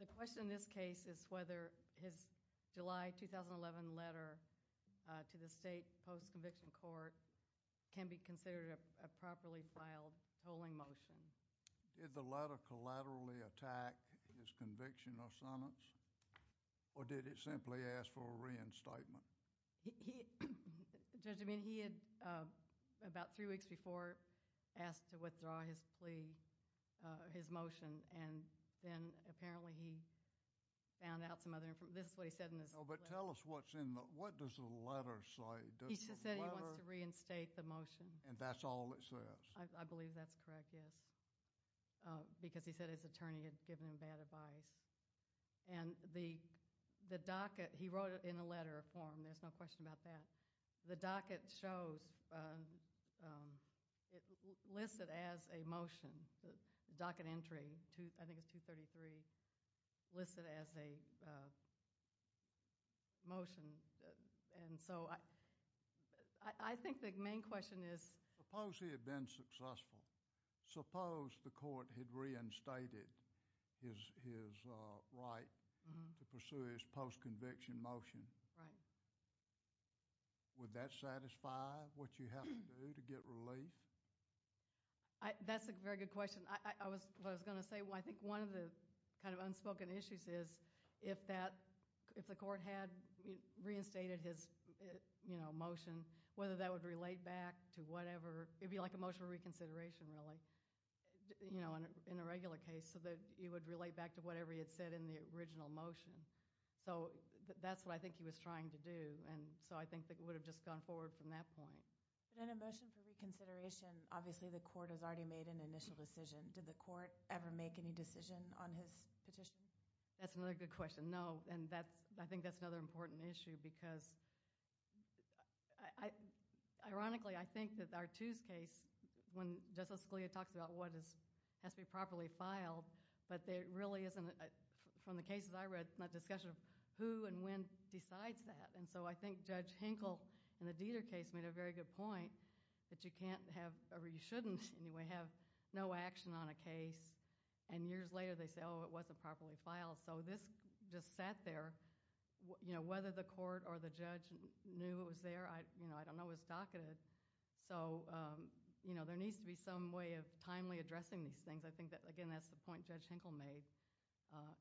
The question in this case is whether his July 2011 letter to the state post-conviction court can be considered a properly filed tolling motion. Did the letter collaterally attack his conviction or sentence, or did it simply ask for a reinstatement? Judge, I mean, he had about three weeks before asked to withdraw his plea, his motion, and then apparently he found out some other information. This is what he said in his plea. Oh, but tell us what's in the, what does the letter say? He just said he wants to reinstate the motion. And that's all it says? I believe that's correct, yes, because he said his attorney had given him bad advice. And the docket, he wrote it in a letter form, there's no question about that. The docket shows, it lists it as a motion, the docket entry, I think it's 233, lists it as a motion. And so I think the main question is suppose he had been successful, suppose the court had reinstated his right to pursue his post-conviction motion. Right. Would that satisfy what you have to do to get relief? That's a very good question. What I was going to say, I think one of the kind of unspoken issues is if the court had reinstated his motion, whether that would relate back to whatever, it would be like a motion for reconsideration really, you know, in a regular case, so that it would relate back to whatever he had said in the original motion. So that's what I think he was trying to do. And so I think that it would have just gone forward from that point. But in a motion for reconsideration, obviously the court has already made an initial decision. Did the court ever make any decision on his petition? That's another good question. No, and I think that's another important issue because ironically I think that R2's case, when Justice Scalia talks about what has to be properly filed, but there really isn't, from the cases I read, not discussion of who and when decides that. And so I think Judge Hinkle in the Dieter case made a very good point that you can't have, or you shouldn't anyway, have no action on a case. And years later they say, oh, it wasn't properly filed. So this just sat there. Whether the court or the judge knew it was there, I don't know. It was docketed. So there needs to be some way of timely addressing these things. I think that, again, that's the point Judge Hinkle made.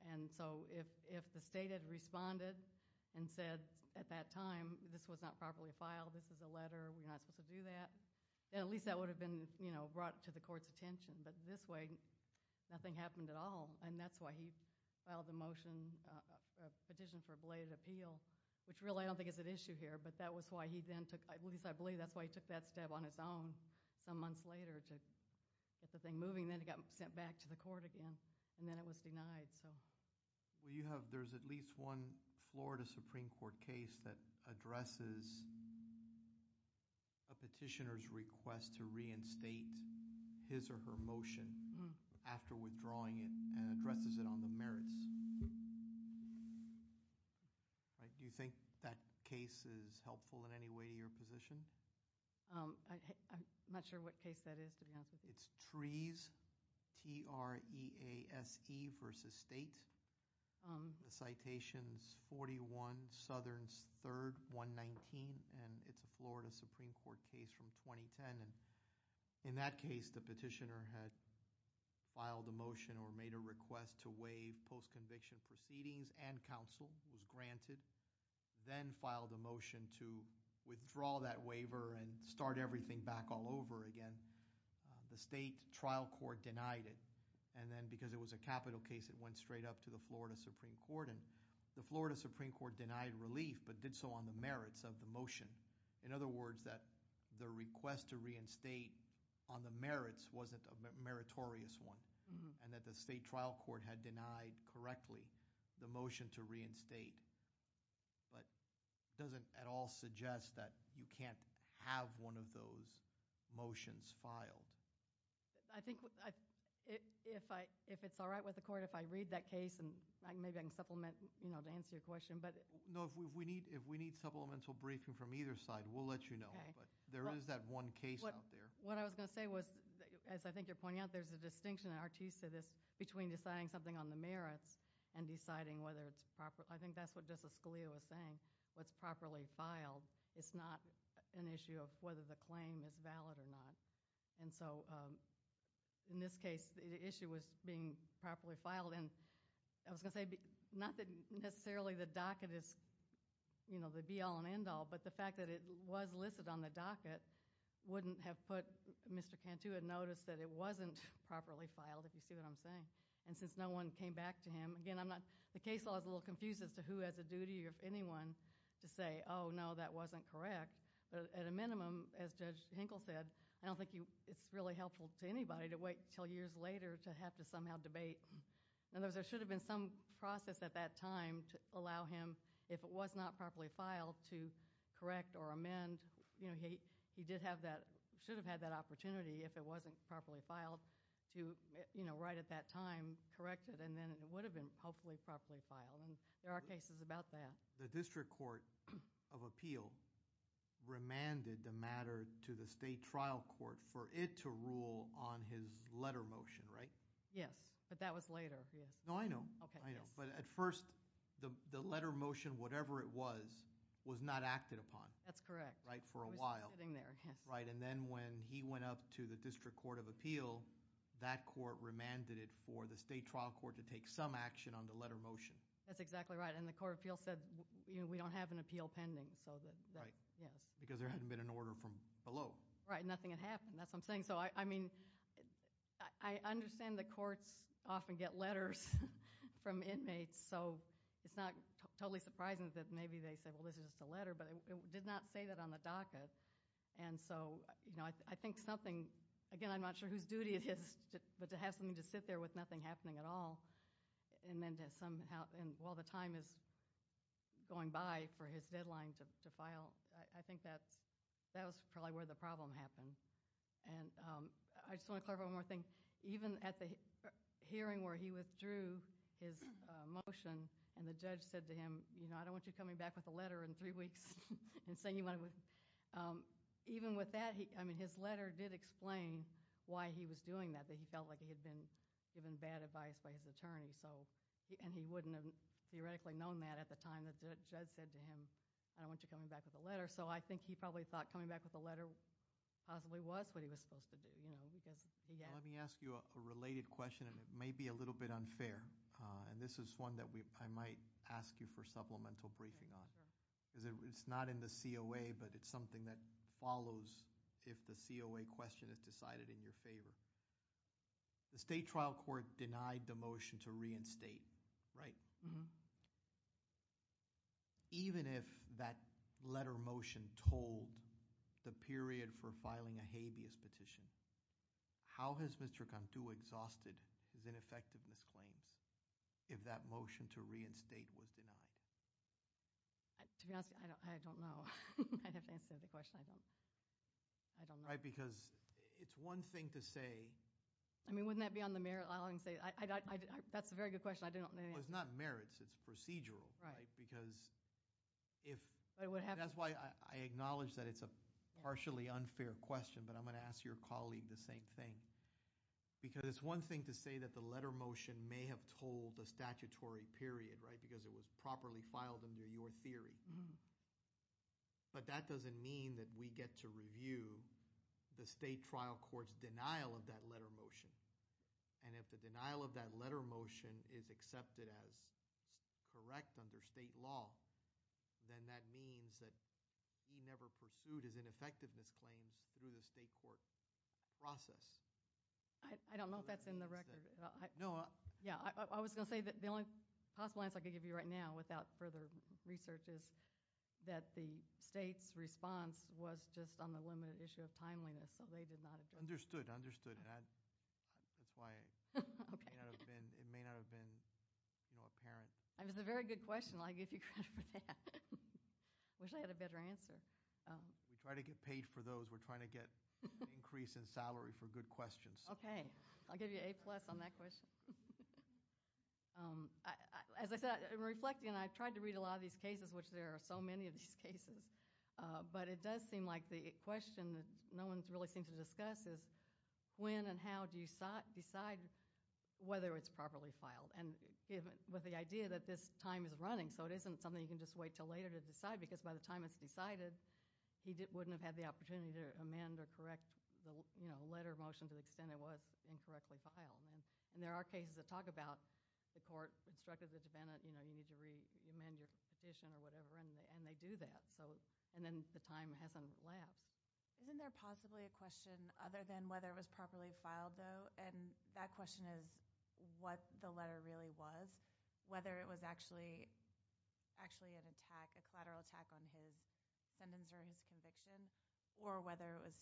And so if the state had responded and said at that time this was not properly filed, this is a letter, we're not supposed to do that, then at least that would have been brought to the court's attention. But this way nothing happened at all. And that's why he filed the motion, petition for a belated appeal, which really I don't think is at issue here, but that was why he then took, at least I believe that's why he took that step on his own some months later to get the thing moving. Then it got sent back to the court again, and then it was denied. Well, you have there's at least one Florida Supreme Court case that addresses a petitioner's request to reinstate his or her motion after withdrawing it and addresses it on the merits. Do you think that case is helpful in any way to your position? I'm not sure what case that is, to be honest with you. It's Trease, T-R-E-A-S-E versus state. The citation's 41, Southern's third, 119, and it's a Florida Supreme Court case from 2010. And in that case the petitioner had filed a motion or made a request to waive post-conviction proceedings and counsel, was granted, then filed a motion to withdraw that waiver and start everything back all over again. The state trial court denied it. And then because it was a capital case, it went straight up to the Florida Supreme Court, and the Florida Supreme Court denied relief but did so on the merits of the motion. In other words, that the request to reinstate on the merits wasn't a meritorious one, and that the state trial court had denied correctly the motion to reinstate. But it doesn't at all suggest that you can't have one of those motions filed. I think if it's all right with the court, if I read that case, and maybe I can supplement to answer your question. No, if we need supplemental briefing from either side, we'll let you know. But there is that one case out there. What I was going to say was, as I think you're pointing out, there's a distinction in Artisa between deciding something on the merits and deciding whether it's proper. I think that's what Justice Scalia was saying, what's properly filed. It's not an issue of whether the claim is valid or not. And so in this case, the issue was being properly filed. And I was going to say, not that necessarily the docket is the be-all and end-all, but the fact that it was listed on the docket wouldn't have put Mr. Cantu in notice that it wasn't properly filed, if you see what I'm saying. And since no one came back to him, again, the case law is a little confused as to who has a duty or anyone to say, oh, no, that wasn't correct, but at a minimum, as Judge Hinkle said, I don't think it's really helpful to anybody to wait until years later to have to somehow debate. In other words, there should have been some process at that time to allow him, and he should have had that opportunity if it wasn't properly filed to right at that time correct it, and then it would have been hopefully properly filed. And there are cases about that. The district court of appeal remanded the matter to the state trial court for it to rule on his letter motion, right? Yes, but that was later, yes. No, I know. Okay, yes. But at first, the letter motion, whatever it was, was not acted upon. That's correct. Right, for a while. It was just sitting there, yes. Right, and then when he went up to the district court of appeal, that court remanded it for the state trial court to take some action on the letter motion. That's exactly right, and the court of appeal said, you know, we don't have an appeal pending, so that, yes. Right, because there hadn't been an order from below. Right, nothing had happened. That's what I'm saying. So, I mean, I understand the courts often get letters from inmates, so it's not totally surprising that maybe they say, well, this is just a letter, but it did not say that on the docket. And so, you know, I think something, again, I'm not sure whose duty it is, but to have something to sit there with nothing happening at all, and then to somehow, while the time is going by for his deadline to file, I think that was probably where the problem happened. And I just want to clarify one more thing. Even at the hearing where he withdrew his motion and the judge said to him, you know, I don't want you coming back with a letter in three weeks and saying you want to, even with that, I mean, his letter did explain why he was doing that, that he felt like he had been given bad advice by his attorney, and he wouldn't have theoretically known that at the time the judge said to him, I don't want you coming back with a letter. So I think he probably thought coming back with a letter possibly was what he was supposed to do, you know. Let me ask you a related question, and it may be a little bit unfair, and this is one that I might ask you for supplemental briefing on. It's not in the COA, but it's something that follows if the COA question is decided in your favor. The state trial court denied the motion to reinstate, right? Even if that letter motion told the period for filing a habeas petition, how has Mr. Cantu exhausted his ineffectiveness claims if that motion to reinstate was denied? To be honest, I don't know. I'd have to answer the question. I don't know. Right, because it's one thing to say – I mean, wouldn't that be on the merit – that's a very good question. Well, it's not merits. It's procedural, right, because if – that's why I acknowledge that it's a partially unfair question, but I'm going to ask your colleague the same thing because it's one thing to say that the letter motion may have told a statutory period, right, because it was properly filed under your theory, but that doesn't mean that we get to review the state trial court's denial of that letter motion, and if the denial of that letter motion is accepted as correct under state law, then that means that he never pursued his ineffectiveness claims through the state court process. I don't know if that's in the record. No. Yeah. I was going to say that the only possible answer I could give you right now without further research is that the state's response was just on the limited issue of timeliness, so they did not address it. Understood. Understood. That's why it may not have been apparent. It was a very good question. I give you credit for that. I wish I had a better answer. We try to get paid for those. We're trying to get an increase in salary for good questions. Okay. I'll give you A-plus on that question. As I said, I'm reflecting, and I've tried to read a lot of these cases, which there are so many of these cases, but it does seem like the question that no one really seems to discuss is when and how do you decide whether it's properly filed? With the idea that this time is running, so it isn't something you can just wait until later to decide because by the time it's decided, he wouldn't have had the opportunity to amend or correct the letter of motion to the extent it was incorrectly filed. There are cases that talk about the court instructed the defendant, you need to amend your petition or whatever, and they do that. Then the time hasn't lapsed. Isn't there possibly a question other than whether it was properly filed, though? That question is what the letter really was, whether it was actually an attack, a collateral attack on his sentence or his conviction, or whether it was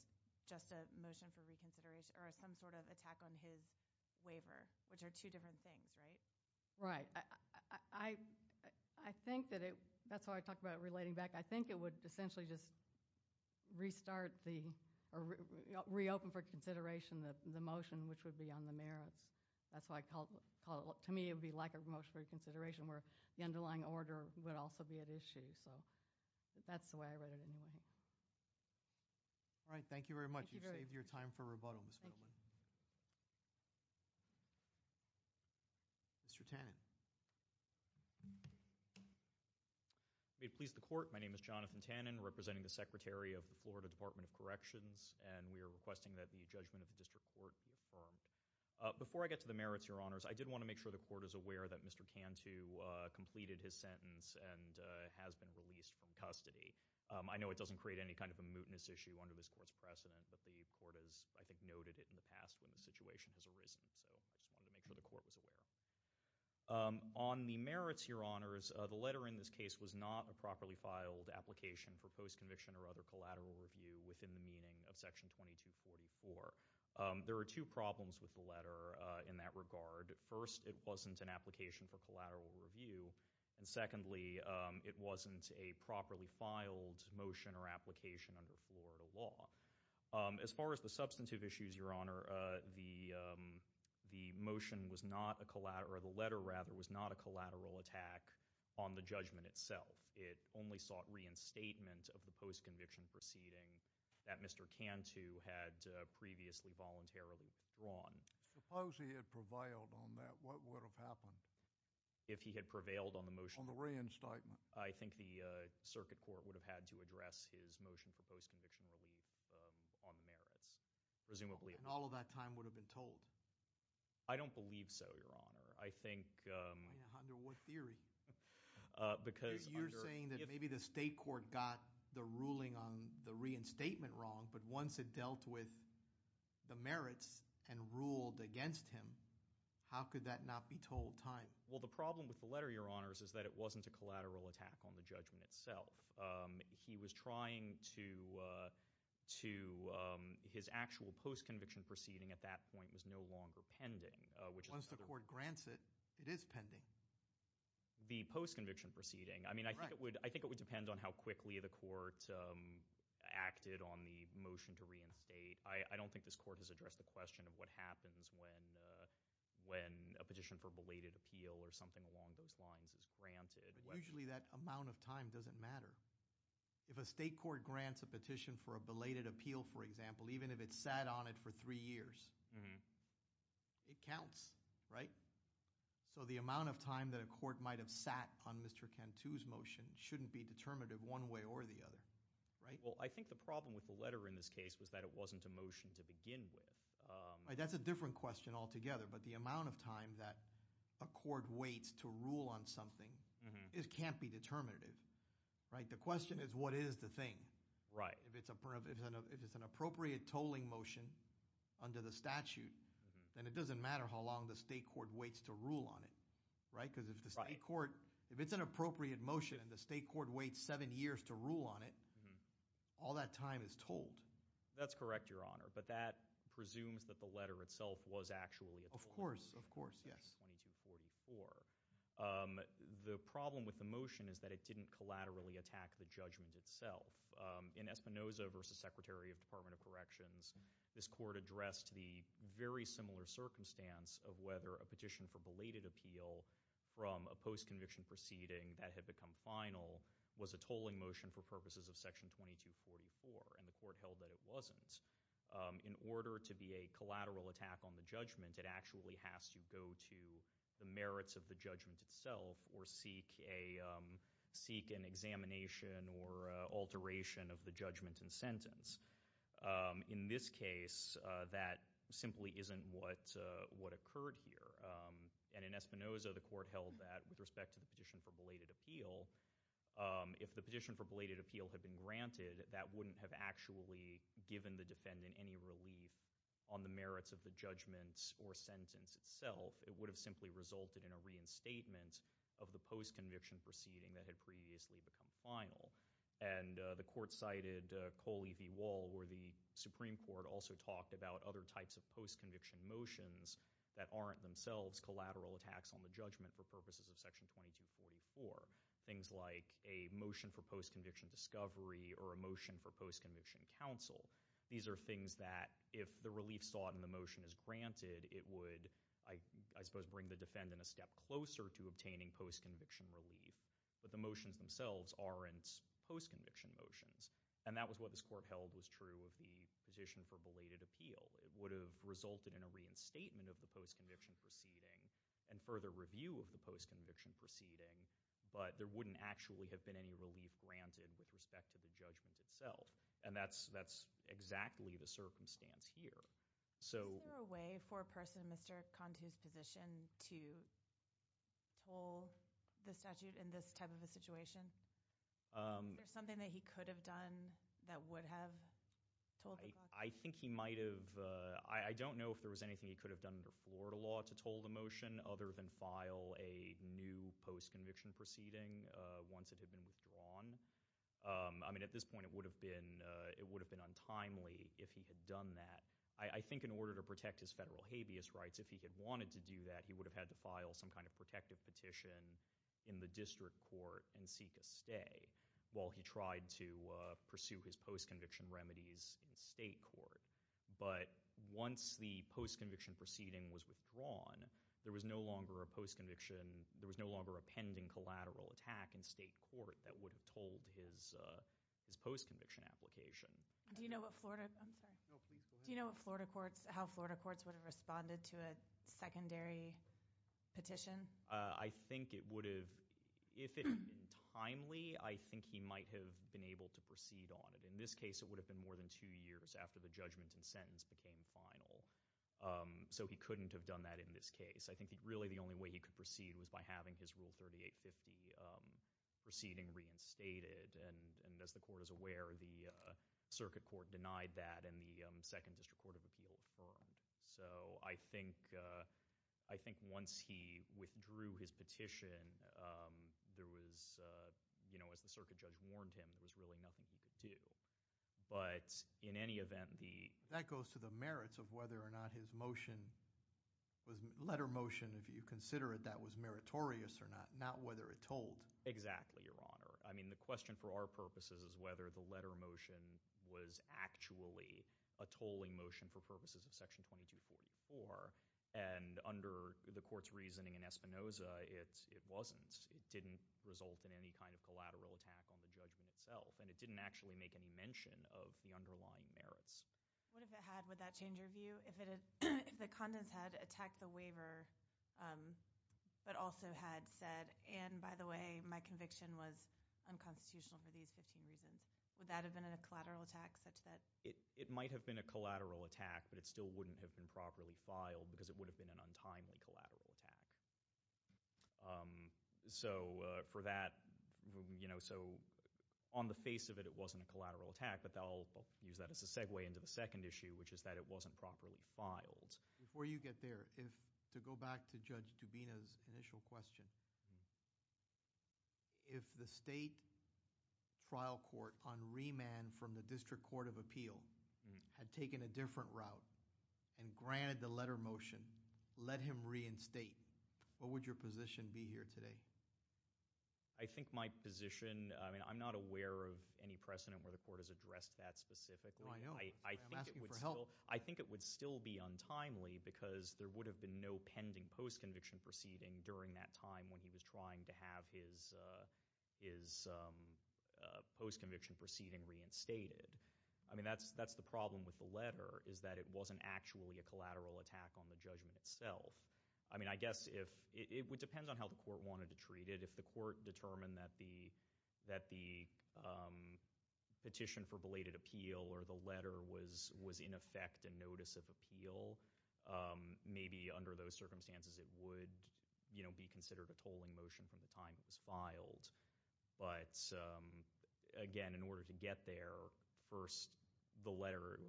just a motion for reconsideration or some sort of attack on his waiver, which are two different things, right? Right. I think that's why I talked about it relating back. I think it would essentially just restart or reopen for consideration the motion which would be on the merits. To me, it would be like a motion for reconsideration where the underlying order would also be at issue, so that's the way I read it anyway. All right. Thank you very much. You saved your time for rebuttal, Ms. Fiddleman. Mr. Tannen. May it please the Court, my name is Jonathan Tannen, representing the Secretary of the Florida Department of Corrections, and we are requesting that the judgment of the District Court be affirmed. Before I get to the merits, Your Honors, I did want to make sure the Court is aware that Mr. Cantu completed his sentence and has been released from custody. I know it doesn't create any kind of a mootness issue under this Court's precedent, but the Court has, I think, noted it in the past when the situation has arisen, so I just wanted to make sure the Court was aware. On the merits, Your Honors, the letter in this case was not a properly filed application for post-conviction or other collateral review within the meaning of Section 2244. There are two problems with the letter in that regard. First, it wasn't an application for collateral review, and secondly, it wasn't a properly filed motion or application under Florida law. As far as the substantive issues, Your Honor, the motion was not a collateral—or the letter, rather, was not a collateral attack on the judgment itself. It only sought reinstatement of the post-conviction proceeding that Mr. Cantu had previously voluntarily withdrawn. Suppose he had prevailed on that, what would have happened? If he had prevailed on the motion? On the reinstatement. I think the Circuit Court would have had to address his motion for post-conviction relief on the merits, presumably. And all of that time would have been told? I don't believe so, Your Honor. I think— Under what theory? Because— You're saying that maybe the State Court got the ruling on the reinstatement wrong, but once it dealt with the merits and ruled against him, how could that not be told time? Well, the problem with the letter, Your Honors, is that it wasn't a collateral attack on the judgment itself. He was trying to—his actual post-conviction proceeding at that point was no longer pending. Once the court grants it, it is pending. The post-conviction proceeding. I mean, I think it would depend on how quickly the court acted on the motion to reinstate. I don't think this court has addressed the question of what happens when a petition for belated appeal or something along those lines is granted. Usually that amount of time doesn't matter. If a State Court grants a petition for a belated appeal, for example, even if it sat on it for three years, it counts, right? So the amount of time that a court might have sat on Mr. Cantu's motion shouldn't be determinative one way or the other, right? Well, I think the problem with the letter in this case was that it wasn't a motion to begin with. That's a different question altogether, but the amount of time that a court waits to rule on something can't be determinative, right? The question is what is the thing. If it's an appropriate tolling motion under the statute, then it doesn't matter how long the State Court waits to rule on it, right? Because if the State Court—if it's an appropriate motion and the State Court waits seven years to rule on it, all that time is tolled. That's correct, Your Honor, but that presumes that the letter itself was actually a tolling motion. Of course, of course, yes. Section 2244. The problem with the motion is that it didn't collaterally attack the judgment itself. In Espinoza v. Secretary of Department of Corrections, this court addressed the very similar circumstance of whether a petition for belated appeal from a post-conviction proceeding that had become final was a tolling motion for purposes of Section 2244, and the court held that it wasn't. In order to be a collateral attack on the judgment, it actually has to go to the merits of the judgment itself or seek an examination or alteration of the judgment and sentence. In this case, that simply isn't what occurred here. And in Espinoza, the court held that with respect to the petition for belated appeal, if the petition for belated appeal had been granted, that wouldn't have actually given the defendant any relief on the merits of the judgments or sentence itself. It would have simply resulted in a reinstatement of the post-conviction proceeding that had previously become final. And the court cited Coley v. Wall, where the Supreme Court also talked about other types of post-conviction motions that aren't themselves collateral attacks on the judgment for purposes of Section 2244. Things like a motion for post-conviction discovery or a motion for post-conviction counsel. These are things that if the relief sought in the motion is granted, it would, I suppose, bring the defendant a step closer to obtaining post-conviction relief. But the motions themselves aren't post-conviction motions. And that was what this court held was true of the petition for belated appeal. It would have resulted in a reinstatement of the post-conviction proceeding and further review of the post-conviction proceeding. But there wouldn't actually have been any relief granted with respect to the judgment itself. And that's exactly the circumstance here. Is there a way for a person in Mr. Cantu's position to toll the statute in this type of a situation? Is there something that he could have done that would have tolled the clock? I think he might have. I don't know if there was anything he could have done under Florida law to toll the motion other than file a new post-conviction proceeding once it had been withdrawn. I mean, at this point, it would have been untimely if he had done that. I think in order to protect his federal habeas rights, if he had wanted to do that, he would have had to file some kind of protective petition in the district court and seek a stay while he tried to pursue his post-conviction remedies in state court. But once the post-conviction proceeding was withdrawn, there was no longer a pending collateral attack in state court that would have tolled his post-conviction application. Do you know how Florida courts would have responded to a secondary petition? I think if it had been timely, I think he might have been able to proceed on it. In this case, it would have been more than two years after the judgment and sentence became final. So he couldn't have done that in this case. I think really the only way he could proceed was by having his Rule 3850 proceeding reinstated. And as the court is aware, the circuit court denied that, and the Second District Court of Appeal affirmed. So I think once he withdrew his petition, there was, as the circuit judge warned him, there was really nothing he could do. But in any event, the— That goes to the merits of whether or not his motion was—letter motion, if you consider it, that was meritorious or not, not whether it tolled. Exactly, Your Honor. I mean the question for our purposes is whether the letter motion was actually a tolling motion for purposes of Section 2244. And under the court's reasoning in Espinoza, it wasn't. It didn't result in any kind of collateral attack on the judgment itself, and it didn't actually make any mention of the underlying merits. What if it had? Would that change your view? If the contents had attacked the waiver but also had said, and by the way, my conviction was unconstitutional for these 15 reasons, would that have been a collateral attack such that— It might have been a collateral attack, but it still wouldn't have been properly filed because it would have been an untimely collateral attack. So for that—so on the face of it, it wasn't a collateral attack, but I'll use that as a segue into the second issue, which is that it wasn't properly filed. Before you get there, to go back to Judge Dubina's initial question, if the state trial court on remand from the District Court of Appeal had taken a different route and granted the letter motion, let him reinstate, what would your position be here today? I think my position—I mean, I'm not aware of any precedent where the court has addressed that specifically. No, I know. I'm asking for help. I think it would still be untimely because there would have been no pending post-conviction proceeding during that time when he was trying to have his post-conviction proceeding reinstated. I mean, that's the problem with the letter, is that it wasn't actually a collateral attack on the judgment itself. I mean, I guess if—it depends on how the court wanted to treat it. If the court determined that the petition for belated appeal or the letter was in effect a notice of appeal, maybe under those circumstances it would be considered a tolling motion from the time it was filed. But again, in order to get there, first the letter—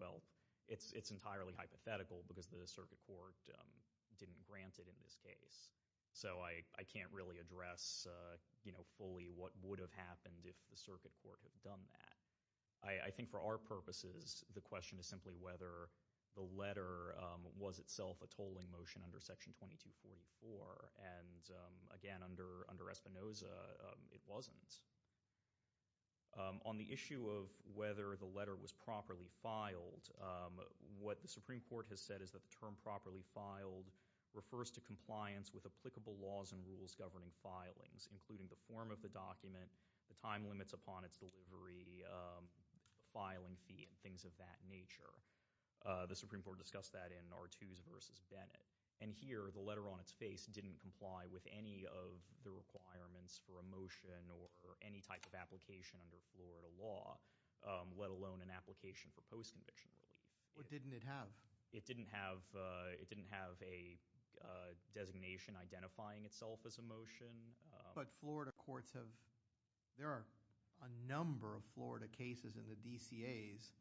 it's entirely hypothetical because the circuit court didn't grant it in this case. So I can't really address fully what would have happened if the circuit court had done that. I think for our purposes, the question is simply whether the letter was itself a tolling motion under Section 2244. And again, under Espinoza, it wasn't. On the issue of whether the letter was properly filed, what the Supreme Court has said is that the term properly filed refers to compliance with applicable laws and rules governing filings, including the form of the document, the time limits upon its delivery, filing fee, and things of that nature. The Supreme Court discussed that in Artuse v. Bennett. And here, the letter on its face didn't comply with any of the requirements for a motion or any type of application under Florida law, let alone an application for post-conviction relief. What didn't it have? It didn't have a designation identifying itself as a motion. But Florida courts have— there are a number of Florida cases in the DCAs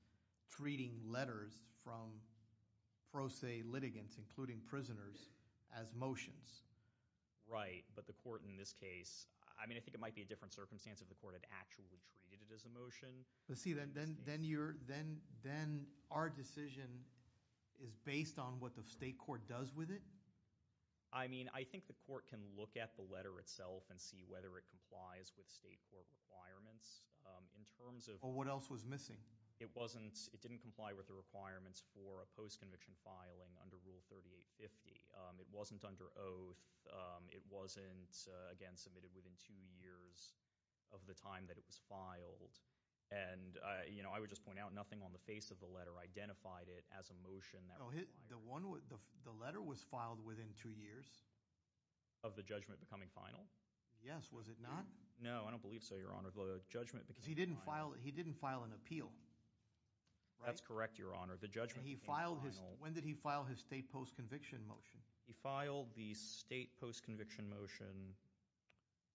treating letters from pro se litigants, including prisoners, as motions. Right, but the court in this case— I mean, I think it might be a different circumstance if the court had actually treated it as a motion. But see, then our decision is based on what the state court does with it? I mean, I think the court can look at the letter itself and see whether it complies with state court requirements in terms of— But what else was missing? It didn't comply with the requirements for a post-conviction filing under Rule 3850. It wasn't under oath. It wasn't, again, submitted within two years of the time that it was filed. And, you know, I would just point out nothing on the face of the letter identified it as a motion that required— The letter was filed within two years? Of the judgment becoming final? Yes. Was it not? No, I don't believe so, Your Honor. The judgment became final. That's correct, Your Honor. The judgment became final. When did he file his state post-conviction motion? He filed the state post-conviction motion.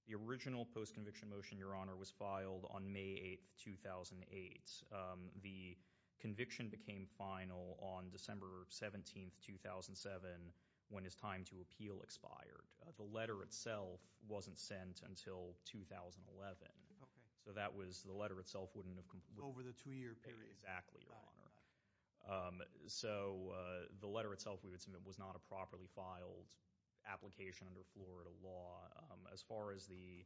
The original post-conviction motion, Your Honor, was filed on May 8, 2008. The conviction became final on December 17, 2007 when his time to appeal expired. The letter itself wasn't sent until 2011. Okay. So that was—the letter itself wouldn't have completed. Over the two-year period. Exactly, Your Honor. So the letter itself we would submit was not a properly filed application under Florida law. As far as the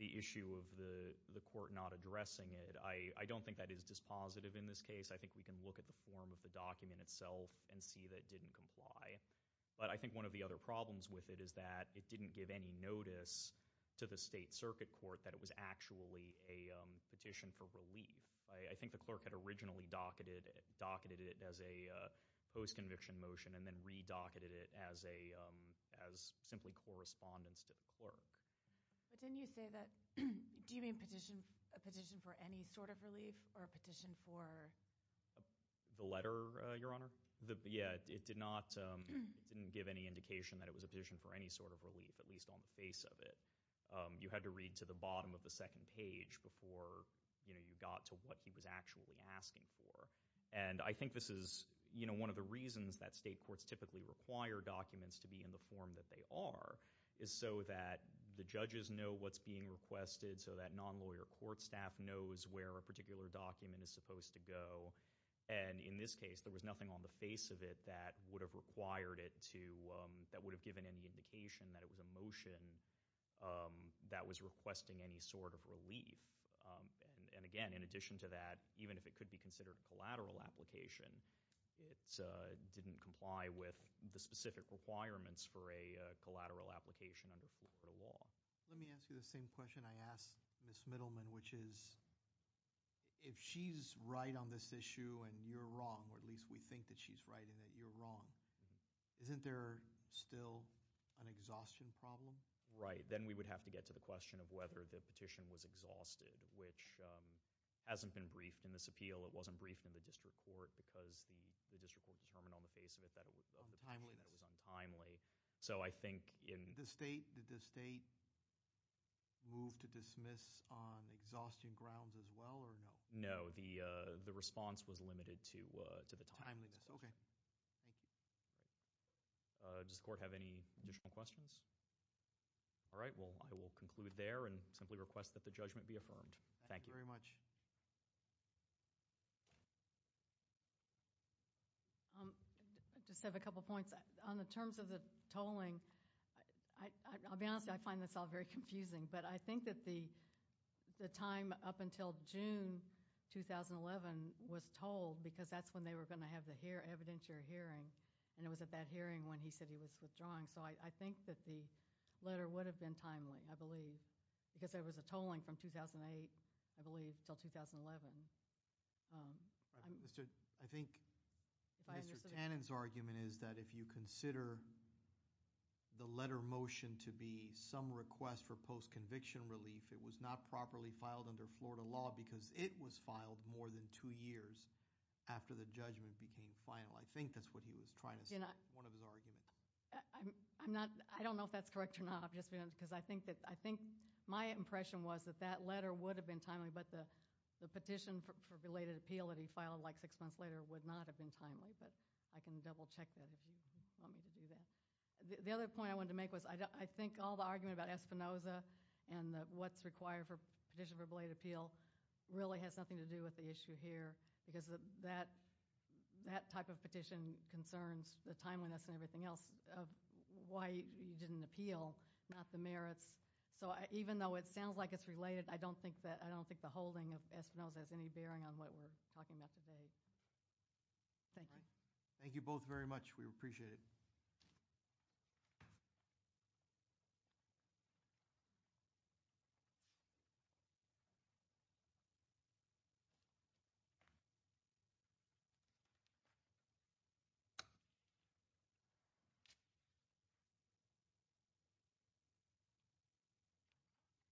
issue of the court not addressing it, I don't think that is dispositive in this case. I think we can look at the form of the document itself and see that it didn't comply. But I think one of the other problems with it is that it didn't give any notice to the State Circuit Court that it was actually a petition for relief. I think the clerk had originally docketed it as a post-conviction motion and then re-docketed it as simply correspondence to the clerk. But didn't you say that—do you mean a petition for any sort of relief or a petition for— The letter, Your Honor? Yeah. It did not—it didn't give any indication that it was a petition for any sort of relief, at least on the face of it. You had to read to the bottom of the second page before you got to what he was actually asking for. And I think this is one of the reasons that state courts typically require documents to be in the form that they are is so that the judges know what's being requested, so that non-lawyer court staff knows where a particular document is supposed to go. And in this case, there was nothing on the face of it that would have required it to— that was requesting any sort of relief. And again, in addition to that, even if it could be considered a collateral application, it didn't comply with the specific requirements for a collateral application under Florida law. Let me ask you the same question I asked Ms. Middleman, which is if she's right on this issue and you're wrong, or at least we think that she's right and that you're wrong, isn't there still an exhaustion problem? Right. Then we would have to get to the question of whether the petition was exhausted, which hasn't been briefed in this appeal. It wasn't briefed in the district court because the district court determined on the face of it that it was untimely. So I think in— Did the state move to dismiss on exhaustion grounds as well or no? No. The response was limited to the timeliness. Okay. Thank you. Does the court have any additional questions? All right. Well, I will conclude there and simply request that the judgment be affirmed. Thank you very much. I just have a couple points. On the terms of the tolling, I'll be honest, I find this all very confusing, but I think that the time up until June 2011 was tolled because that's when they were going to have the evidentiary hearing, and it was at that hearing when he said he was withdrawing. So I think that the letter would have been timely, I believe, because there was a tolling from 2008, I believe, until 2011. I think Mr. Tannen's argument is that if you consider the letter motion to be some request for post-conviction relief, it was not properly filed under Florida law because it was filed more than two years after the judgment became final. I think that's what he was trying to say in one of his arguments. I don't know if that's correct or not. I think my impression was that that letter would have been timely, but the petition for belated appeal that he filed like six months later would not have been timely, but I can double-check that if you want me to do that. The other point I wanted to make was I think all the argument about Espinoza and what's required for petition for belated appeal really has nothing to do with the issue here because that type of petition concerns the timeliness and everything else of why he didn't appeal, not the merits. So even though it sounds like it's related, I don't think the holding of Espinoza has any bearing on what we're talking about today. Thank you. Thank you both very much. We appreciate it.